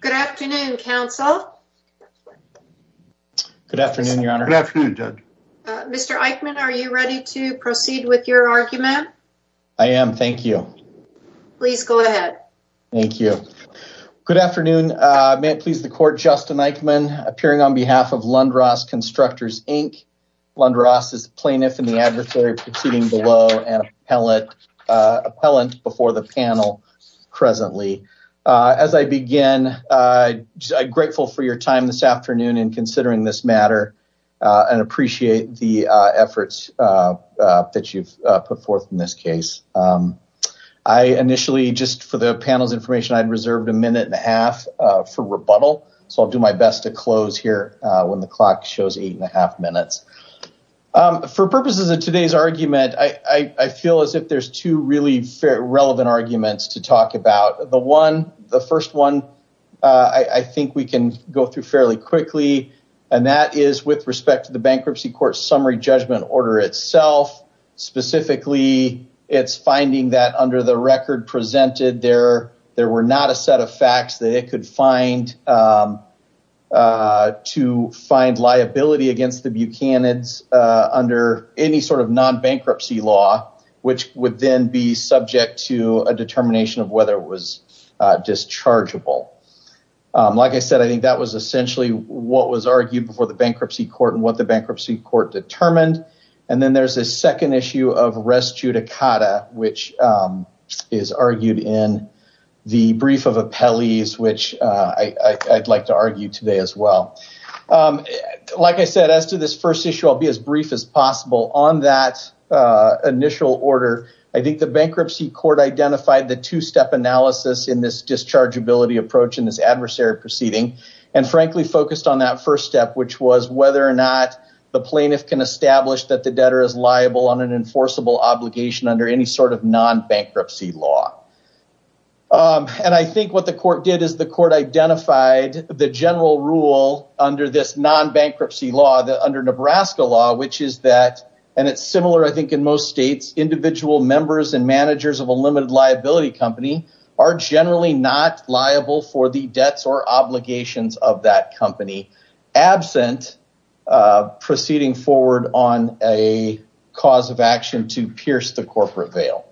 Good afternoon, Council. Good afternoon, Your Honor. Good afternoon, Judge. Mr. Eichmann, are you ready to proceed with your argument? I am, thank you. Please go ahead. Thank you. Good afternoon. May it please the Court, Justin Eichmann, appearing on behalf of Lund-Ross Constructors, Inc. Lund-Ross is the plaintiff and the adversary proceeding below and appellant before the panel presently. As I begin, I'm grateful for your time this afternoon in considering this effort that you've put forth in this case. I initially, just for the panel's information, I'd reserved a minute and a half for rebuttal, so I'll do my best to close here when the clock shows eight and a half minutes. For purposes of today's argument, I feel as if there's two really relevant arguments to talk about. The first one, I think we can go through fairly quickly, and that is with respect to the Bankruptcy Court's summary judgment order itself. Specifically, it's finding that under the record presented, there were not a set of facts that it could find to find liability against the Buchanan's under any sort of non-bankruptcy law, which would then be subject to a determination of whether it was dischargeable. Like I said, I think that was essentially what was argued before the Bankruptcy Court and what the Bankruptcy Court determined. And then there's a second issue of res judicata, which is argued in the brief of appellees, which I'd like to argue today as well. Like I said, as to this first issue, I'll be as brief as possible. On that initial order, I think the Bankruptcy Court identified the two-step analysis in this dischargeability approach in this adversary proceeding, and frankly focused on that first step, which was whether or not the plaintiff can establish that the debtor is liable on an enforceable obligation under any sort of non-bankruptcy law. And I think what the court did is the court identified the general rule under this non-bankruptcy law that under Nebraska law, which is that, and it's similar, I think, in most states, individual members and managers of a limited liability company are generally not liable for the debts or obligations of that company absent proceeding forward on a cause of action to pierce the corporate veil.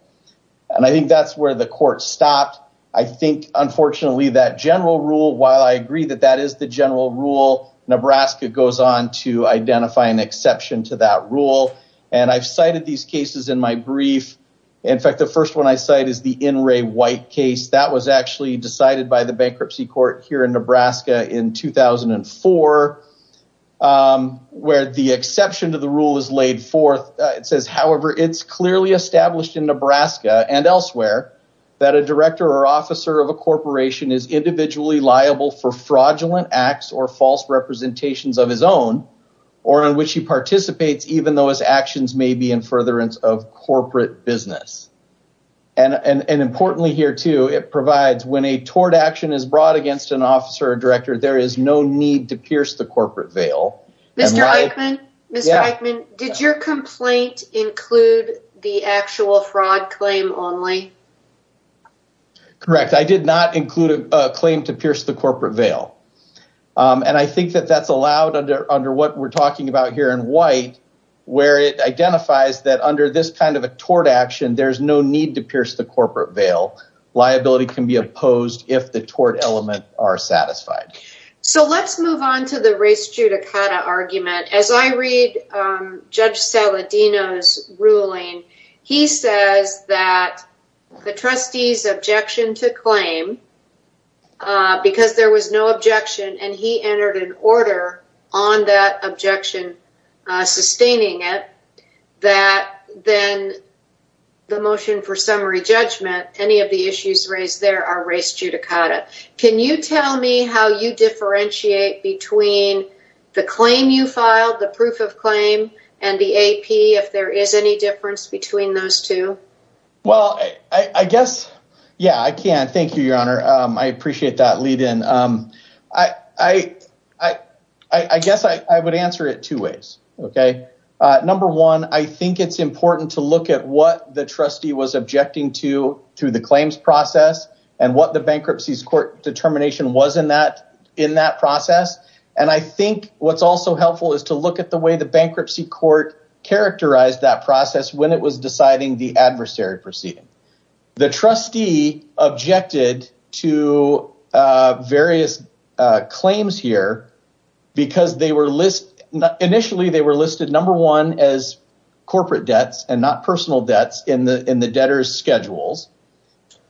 And I think that's where the court stopped. I think, unfortunately, that general rule, while I agree that that is the general rule, Nebraska goes on to identify an exception to that rule. And I've cited these cases in my brief. In fact, the first one I cite is the In Re White case. That was actually decided by the Bankruptcy Court here in Nebraska in 2004, where the exception to the rule is laid forth. It says, however, it's clearly established in liable for fraudulent acts or false representations of his own, or on which he participates, even though his actions may be in furtherance of corporate business. And importantly here, too, it provides when a tort action is brought against an officer or director, there is no need to pierce the corporate veil. Mr. Eichmann, did your complaint include the actual fraud claim only? Correct. I did not include a claim to pierce the corporate veil. And I think that that's allowed under what we're talking about here in White, where it identifies that under this kind of a tort action, there's no need to pierce the corporate veil. Liability can be opposed if the tort element are satisfied. So let's move on to the race judicata argument. As I read Judge Saladino's ruling, he says that the trustee's objection to claim, because there was no objection and he entered an order on that objection, sustaining it, that then the motion for summary judgment, any of the issues raised are race judicata. Can you tell me how you differentiate between the claim you filed, the proof of claim, and the AP, if there is any difference between those two? Well, I guess, yeah, I can. Thank you, Your Honor. I appreciate that lead in. I guess I would answer it two ways. Okay. Number one, I think it's important to look at what the trustee was process and what the bankruptcy's court determination was in that process. And I think what's also helpful is to look at the way the bankruptcy court characterized that process when it was deciding the adversary proceeding. The trustee objected to various claims here because initially they were listed, number one, as corporate debts and not personal debts in the case.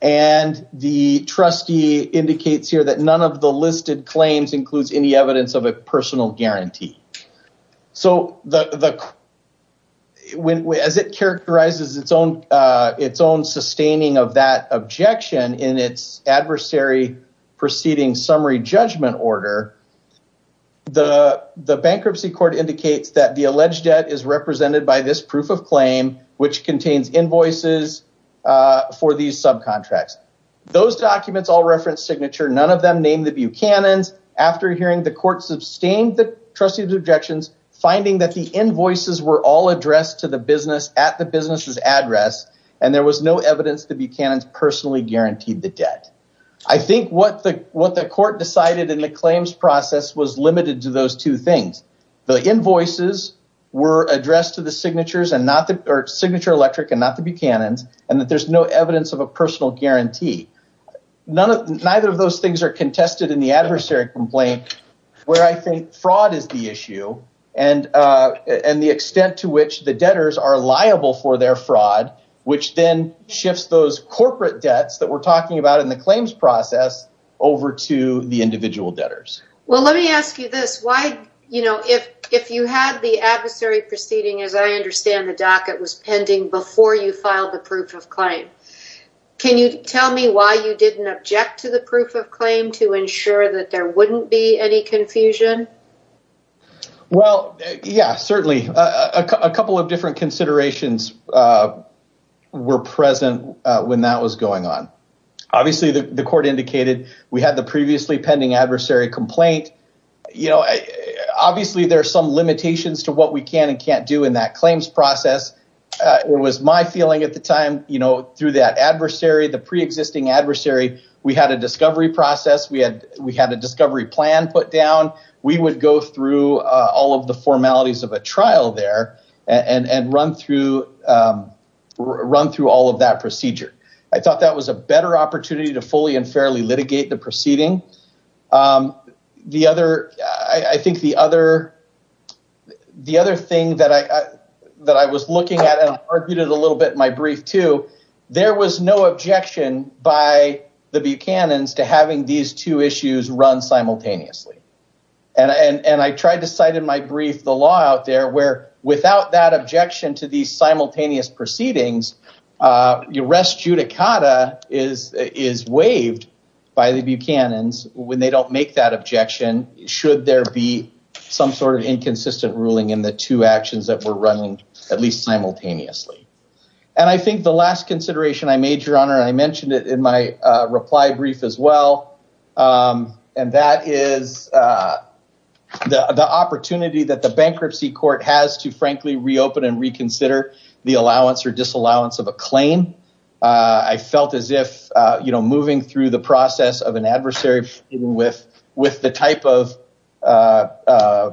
And the trustee indicates here that none of the listed claims includes any evidence of a personal guarantee. So, as it characterizes its own sustaining of that objection in its adversary proceeding summary judgment order, the bankruptcy court indicates that the alleged debt is represented by this proof of claim, which contains invoices for these subcontracts. Those documents all reference signature. None of them named the Buchanan's. After hearing the court sustained the trustee's objections, finding that the invoices were all addressed to the business at the business's address, and there was no evidence the Buchanan's personally guaranteed the debt. I think what the court decided in the claims process was limited to those two things. The invoices were addressed to the signature electric and not the Buchanan's, and that there's no evidence of a personal guarantee. Neither of those things are contested in the adversary complaint where I think fraud is the issue and the extent to which the debtors are liable for their fraud, which then shifts those corporate debts that we're talking about in the case. If you had the adversary proceeding, as I understand, the docket was pending before you filed the proof of claim. Can you tell me why you didn't object to the proof of claim to ensure that there wouldn't be any confusion? Well, yeah, certainly. A couple of different considerations were present when that was going on. Obviously, the court indicated we had the previously pending adversary complaint. Obviously, there are some limitations to what we can and can't do in that claims process. It was my feeling at the time through that adversary, the pre-existing adversary, we had a discovery process. We had a discovery plan put down. We would go through all of the formalities of a trial there and run through all of that procedure. I thought that was a better opportunity to fully and fairly litigate the proceeding. The other thing that I was looking at and argued a little bit in my brief too, there was no objection by the Buchanan's to having these two issues run simultaneously. I tried to cite in my brief the law out there where without that is waived by the Buchanan's when they don't make that objection should there be some sort of inconsistent ruling in the two actions that were running at least simultaneously. I think the last consideration I made, your honor, I mentioned it in my reply brief as well. That is the opportunity that the bankruptcy court has to frankly reopen and reconsider the allowance or disallowance of claim. I felt as if moving through the process of an adversary with the type of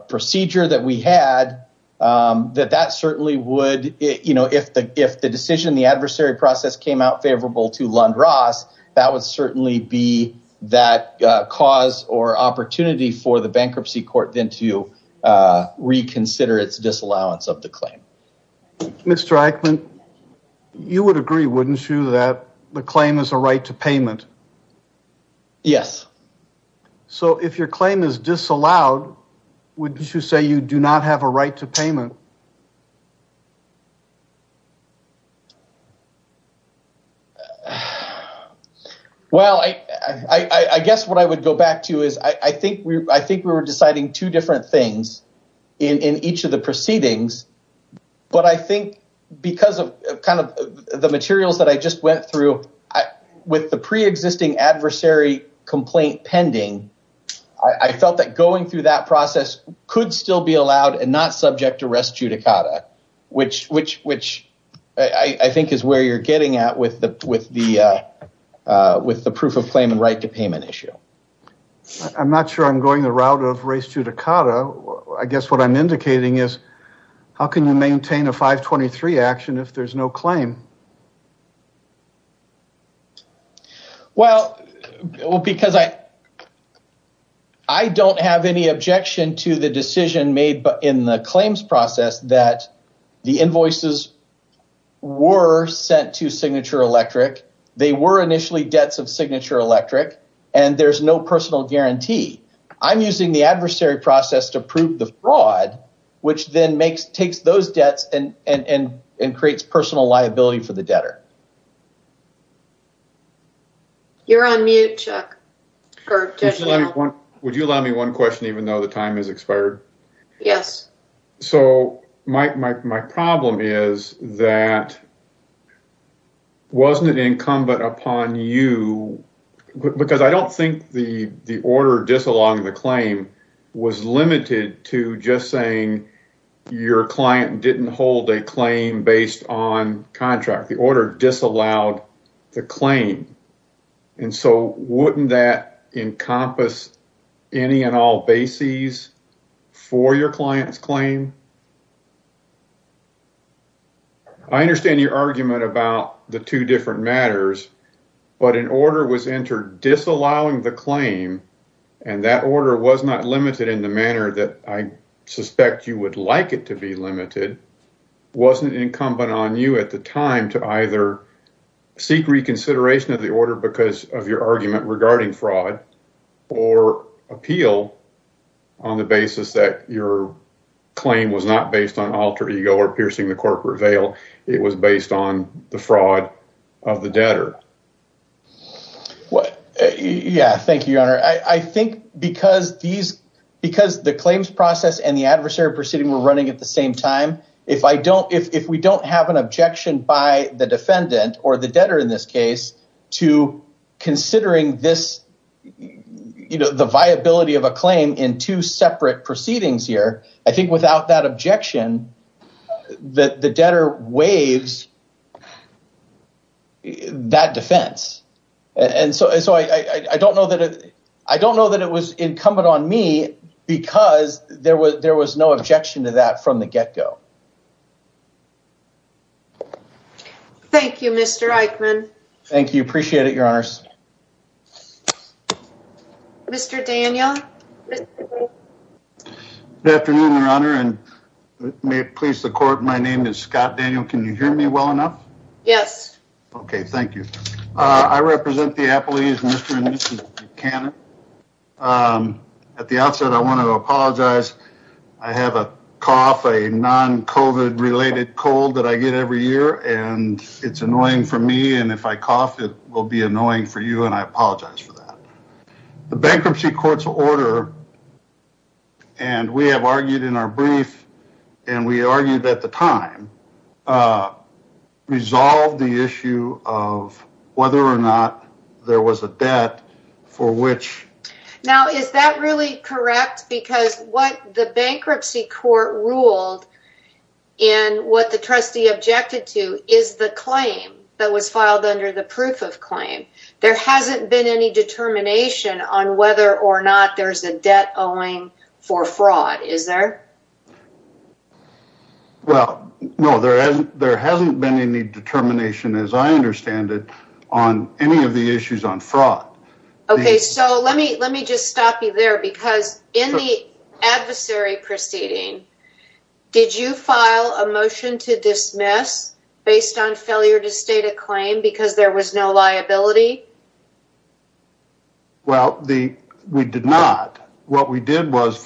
procedure that we had, that that certainly would, if the decision, the adversary process came out favorable to Lund-Ross, that would certainly be that cause or opportunity for the bankruptcy court then to reconsider its disallowance of the claim. Mr. Eichmann, you would agree, wouldn't you, that the claim is a right to payment? Yes. So if your claim is disallowed, wouldn't you say you do not have a right to payment? Well, I guess what I would go back to is, I think we were deciding two different things in each of the proceedings, but I think because of kind of the materials that I just went through, with the pre-existing adversary complaint pending, I felt that going through that process could still be allowed and not subject to restitution. I think that's a good point. I'm not sure I'm going the route of res judicata. I guess what I'm indicating is, how can you maintain a 523 action if there's no claim? Well, because I don't have any objection to the decision made in the claims process that the invoices were sent to Signature Electric, they were initially debts of Signature Electric, and there's no personal guarantee. I'm using the adversary process to prove the fraud, which then takes those debts and creates personal liability for the debtor. You're on mute, Chuck. Would you allow me one question, even though the time has expired? Yes. So my problem is that, wasn't it incumbent upon you, because I don't think the order disallowing the claim was limited to just saying your client didn't hold a claim based on contract. The order disallowed the claim. So wouldn't that encompass any and all bases for your client's claim? I understand your argument about the two different matters, but an order was entered disallowing the claim, not limited in the manner that I suspect you would like it to be limited. Wasn't it incumbent on you at the time to either seek reconsideration of the order because of your argument regarding fraud or appeal on the basis that your claim was not based on alter ego or piercing the corporate veil? It was based on the fraud of the debtor. Yeah. Thank you, Your Honor. I think because the claims process and the adversary proceeding were running at the same time, if we don't have an objection by the defendant or the debtor in this case to considering the viability of a claim in two separate proceedings here, I think without that objection, the debtor waives that defense. I don't know that it was incumbent on me because there was no objection to that from the get-go. Thank you, Mr. Eichmann. Thank you. Appreciate it, Your Honors. Mr. Daniel. Good afternoon, Your Honor, and may it please the court, my name is Scott Daniel. Can you hear me well enough? Yes. Okay, thank you. I represent the Apple East, Mr. and Mrs. Buchanan. At the outset, I want to apologize. I have a cough, a non-COVID-related cold that I get every year, and it's annoying for me, and if I cough, it will be annoying for you, and I apologize for that. The bankruptcy court's order, and we have argued in our brief, and we argued at the time, resolved the issue of whether or not there was a debt for which... Now, is that really correct? Because what the bankruptcy court ruled, and what the trustee objected to, is the claim that was filed under the proof of claim. There hasn't been any determination on whether or not there's a debt owing for fraud, is there? Well, no, there hasn't been any determination, as I understand it, on any of the issues on fraud. Okay, so let me just stop you there, because in the adversary proceeding, did you file a motion to dismiss based on failure to state a claim because there was no liability? Well, we did not. What we did was,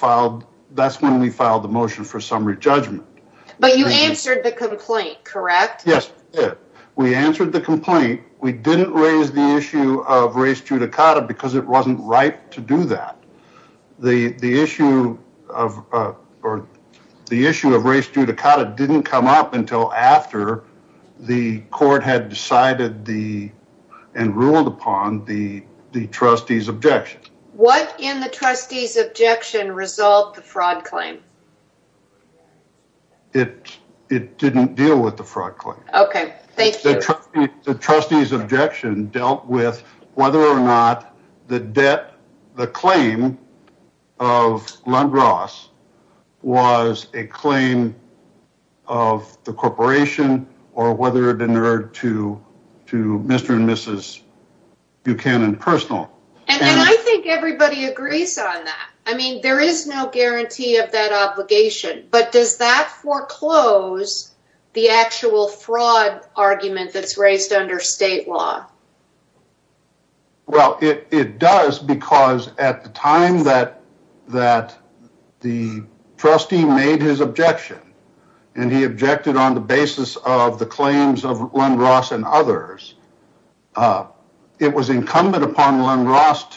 that's when we filed the motion for summary judgment. But you answered the complaint, correct? Yes, we answered the complaint. We didn't raise the issue of race judicata, because it wasn't right to do that. The issue of race judicata didn't come up until after the court had decided and ruled upon the trustee's objection. What in the trustee's claim? It didn't deal with the fraud claim. Okay, thank you. The trustee's objection dealt with whether or not the debt, the claim of Lundgras was a claim of the corporation, or whether it inherited to Mr. and Mrs. Buchanan personal. And I think everybody agrees on that. I mean, there is no guarantee of that obligation, but does that foreclose the actual fraud argument that's raised under state law? Well, it does, because at the time that the trustee made his objection, and he objected on the basis of the claims of Lundgras and others, it was incumbent upon Lundgras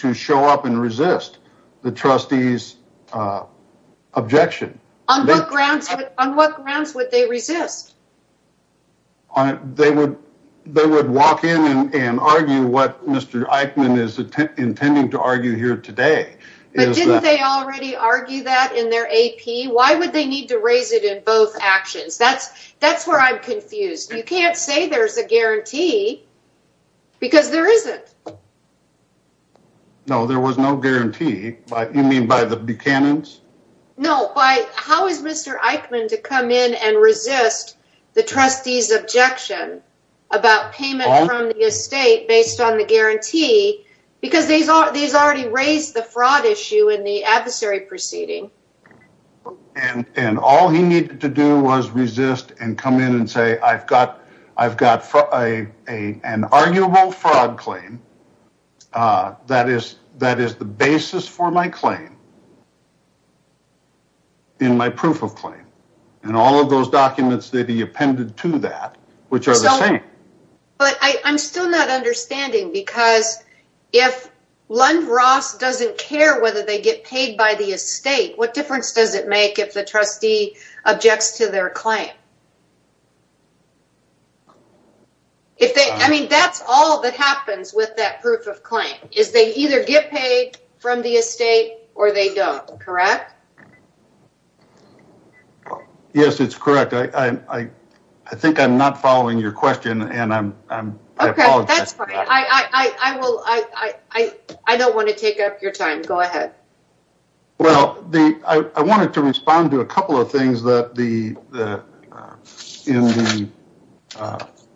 to show up and resist the trustee's objection. On what grounds would they resist? They would walk in and argue what Mr. Eichmann is intending to argue here today. But didn't they already argue that in their AP? Why would they to raise it in both actions? That's where I'm confused. You can't say there's a guarantee, because there isn't. No, there was no guarantee. You mean by the Buchanan's? No, by how is Mr. Eichmann to come in and resist the trustee's objection about payment from the estate based on the guarantee, because these already raised the fraud issue in the adversary proceeding. And all he needed to do was resist and come in and say, I've got an arguable fraud claim that is the basis for my claim in my proof of claim. And all of those documents that he appended to that, which are the same. But I'm still not understanding, because if Lundgras doesn't care whether they get paid by the estate, what difference does it make if the trustee objects to their claim? I mean, that's all that happens with that proof of claim, is they either get paid from the estate or they don't, correct? Yes, it's correct. I think I'm not following your question and I apologize. That's fine. I don't want to take up your time. Go ahead. Well, I wanted to respond to a couple of things in the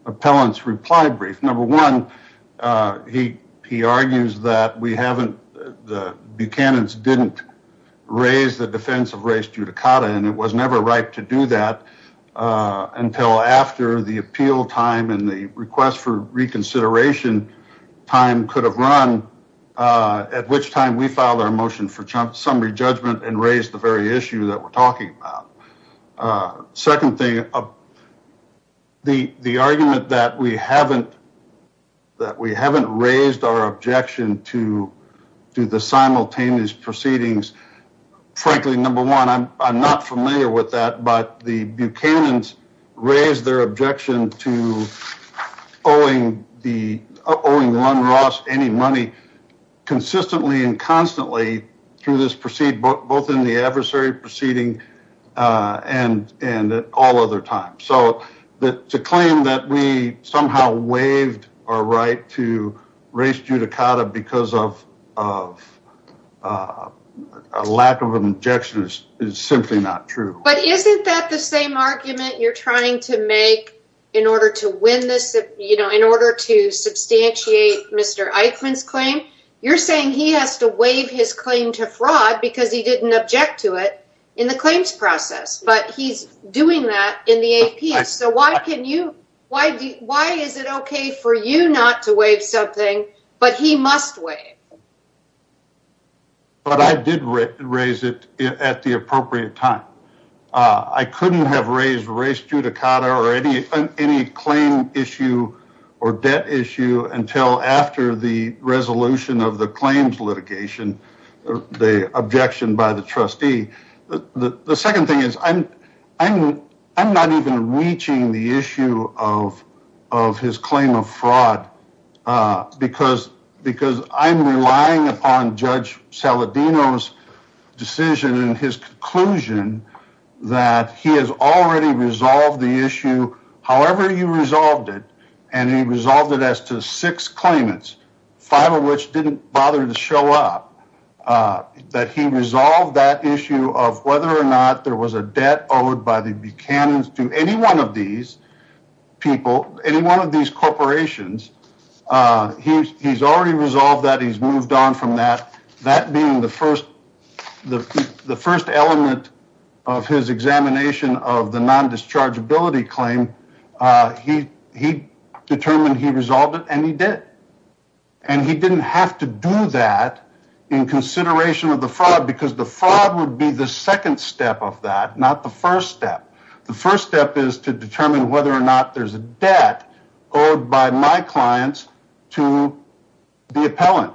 appellant's reply brief. Number one, he argues that the Buchanan's didn't raise the defense of race judicata and it was never right to do that until after the appeal time and the request for reconsideration time could have run, at which time we filed our motion for summary judgment and raised the very issue that we're talking about. Second thing, the argument that we haven't raised our objection to the simultaneous proceedings, frankly, number one, I'm not familiar with that, but the Buchanan's raised their objection to owing Lundgras any money consistently and constantly through this proceed, both in the adversary proceeding and at all other times. So to claim that we somehow waived our right to race judicata because of a lack of an objection is simply not true. But isn't that the same argument you're trying to make in order to win this, in order to substantiate Mr. Eichmann's claim? You're saying he has to waive his claim to fraud because he didn't object to it in the claims process, but he's doing that in the APS. So why can you, why is it okay for you not to waive something, but he must waive? But I did raise it at the appropriate time. I couldn't have raised race judicata or any claim issue or debt issue until after the resolution of the claims litigation, the objection by the trustee. The second thing is I'm not even reaching the issue of his claim of fraud because I'm relying upon Judge Saladino's decision and his conclusion that he has already resolved the issue however you resolved it, and he resolved it as to six claimants, five of which didn't bother to show up, that he resolved that issue of whether or not there was a debt owed by the Buchanan's to any one of these people, any one of these corporations. He's already resolved that. He's moved on from that. That being the first element of his examination of the to do that in consideration of the fraud because the fraud would be the second step of that, not the first step. The first step is to determine whether or not there's a debt owed by my clients to the appellant.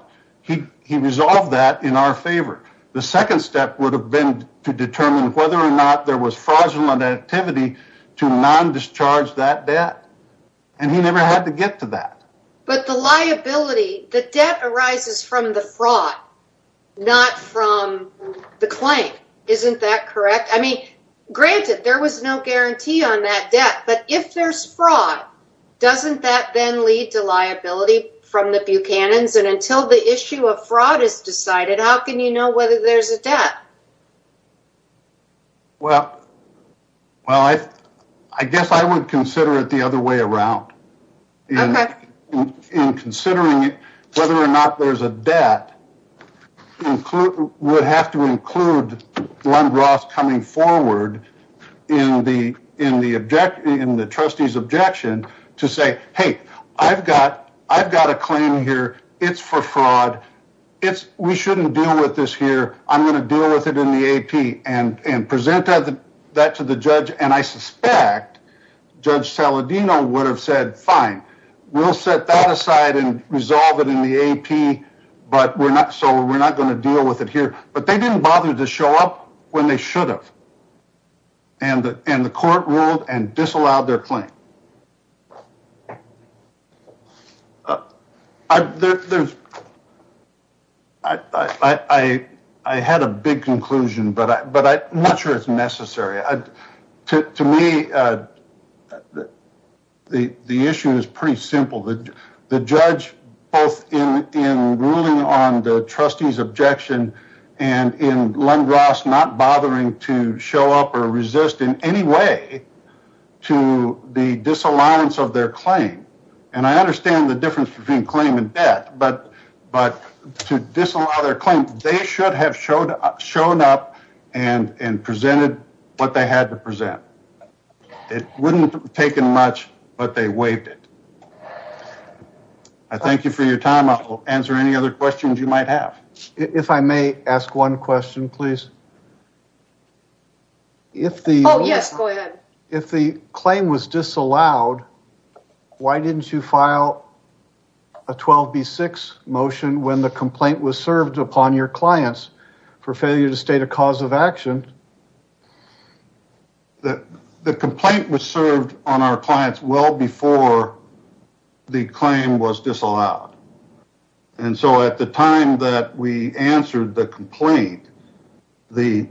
He resolved that in our favor. The second step would have been to determine whether or not there was fraudulent activity to non-discharge that debt, and he never had to get to that. But the liability, the debt arises from the fraud, not from the claim. Isn't that correct? I mean, granted, there was no guarantee on that debt, but if there's fraud, doesn't that then lead to liability from the Buchanan's? And until the issue of fraud is decided, how can you know whether there's a debt? Well, I guess I would consider it the other way around. Okay. In considering whether or not there's a debt would have to include Lund-Roth coming forward in the trustee's objection to say, hey, I've got a claim here. It's for fraud. It's we shouldn't deal with this here. I'm going to deal with it in the AP and present that to the judge. And I suspect Judge Saladino would have said, fine, we'll set that aside and resolve it in the AP, but we're not, so we're not going to deal with it here. But they didn't bother to show up when they should have. And the court ruled and disallowed their claim. I had a big conclusion, but I'm not sure it's necessary. To me, the issue is pretty simple. The judge, both in ruling on the trustee's objection and in Lund-Roth not bothering to show up or resist in any way to the disalliance of their claim. And I understand the difference between claim and debt, but to disallow their claim, they should have shown up and presented what they had to present. It wouldn't have taken much, but they waived it. I thank you for your time. I'll answer any other questions you might have. If I may ask one question, please. If the claim was disallowed, why didn't you file a 12B6 motion when the complaint was served upon your clients for failure to state a cause of action? The complaint was served on our clients well before the claim was disallowed. And so at the time that we answered the complaint, as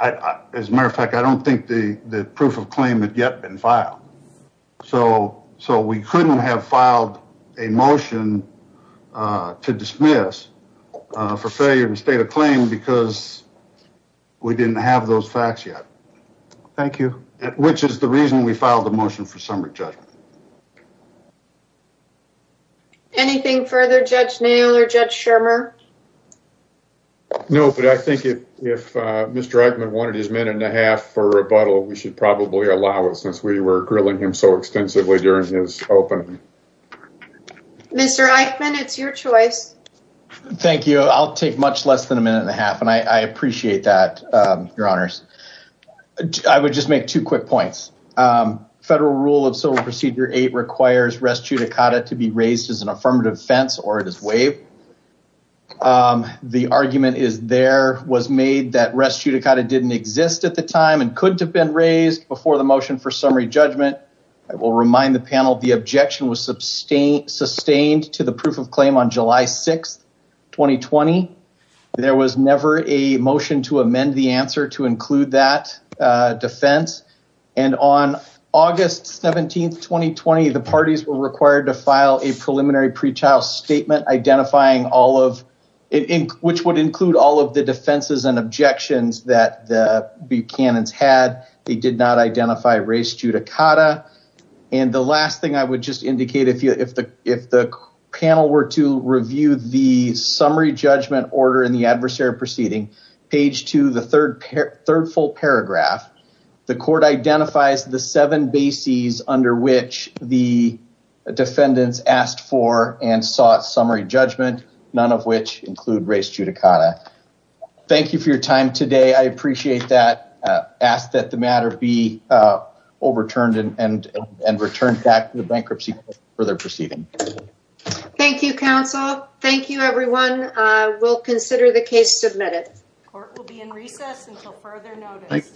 a matter of fact, I don't think the proof of claim had yet been filed. So we couldn't have filed a motion to dismiss for failure to state a claim because we didn't have those facts yet. Thank you. Which is the reason we filed the motion for summary judgment. Anything further, Judge Nail or Judge Shermer? No, but I think if Mr. Eichmann wanted his minute and a half for rebuttal, we should probably allow it since we were grilling him so extensively during his opening. Mr. Eichmann, it's your choice. Thank you. I'll take much less than a minute and a half, and I appreciate that, Your Honors. I would just make two quick points. Federal Rule of Civil Procedure 8 requires res judicata to be raised as an affirmative defense or it is waived. The argument is there was made that res judicata didn't exist at the time and couldn't have been raised before the motion for summary judgment. I will remind the panel, the objection was sustained to the proof of claim on July 6, 2020. There was never a motion to amend the answer to include that defense. And on August 17, 2020, the parties were required to file a preliminary pre-trial statement identifying all of it, which would include all of the defenses and objections that the Buchanan's had. They did not identify res judicata. And the last thing I would just indicate, if the panel were to review the summary judgment order in the adversary proceeding, page two, the third full paragraph, the court identifies the seven bases under which the defendants asked for and sought summary judgment, none of which include res judicata. Thank you for your time today. I appreciate that. I ask that the matter be overturned and returned back to the bankruptcy further proceeding. Thank you, counsel. Thank you, everyone. We'll consider the case submitted. Court will be in recess until further notice.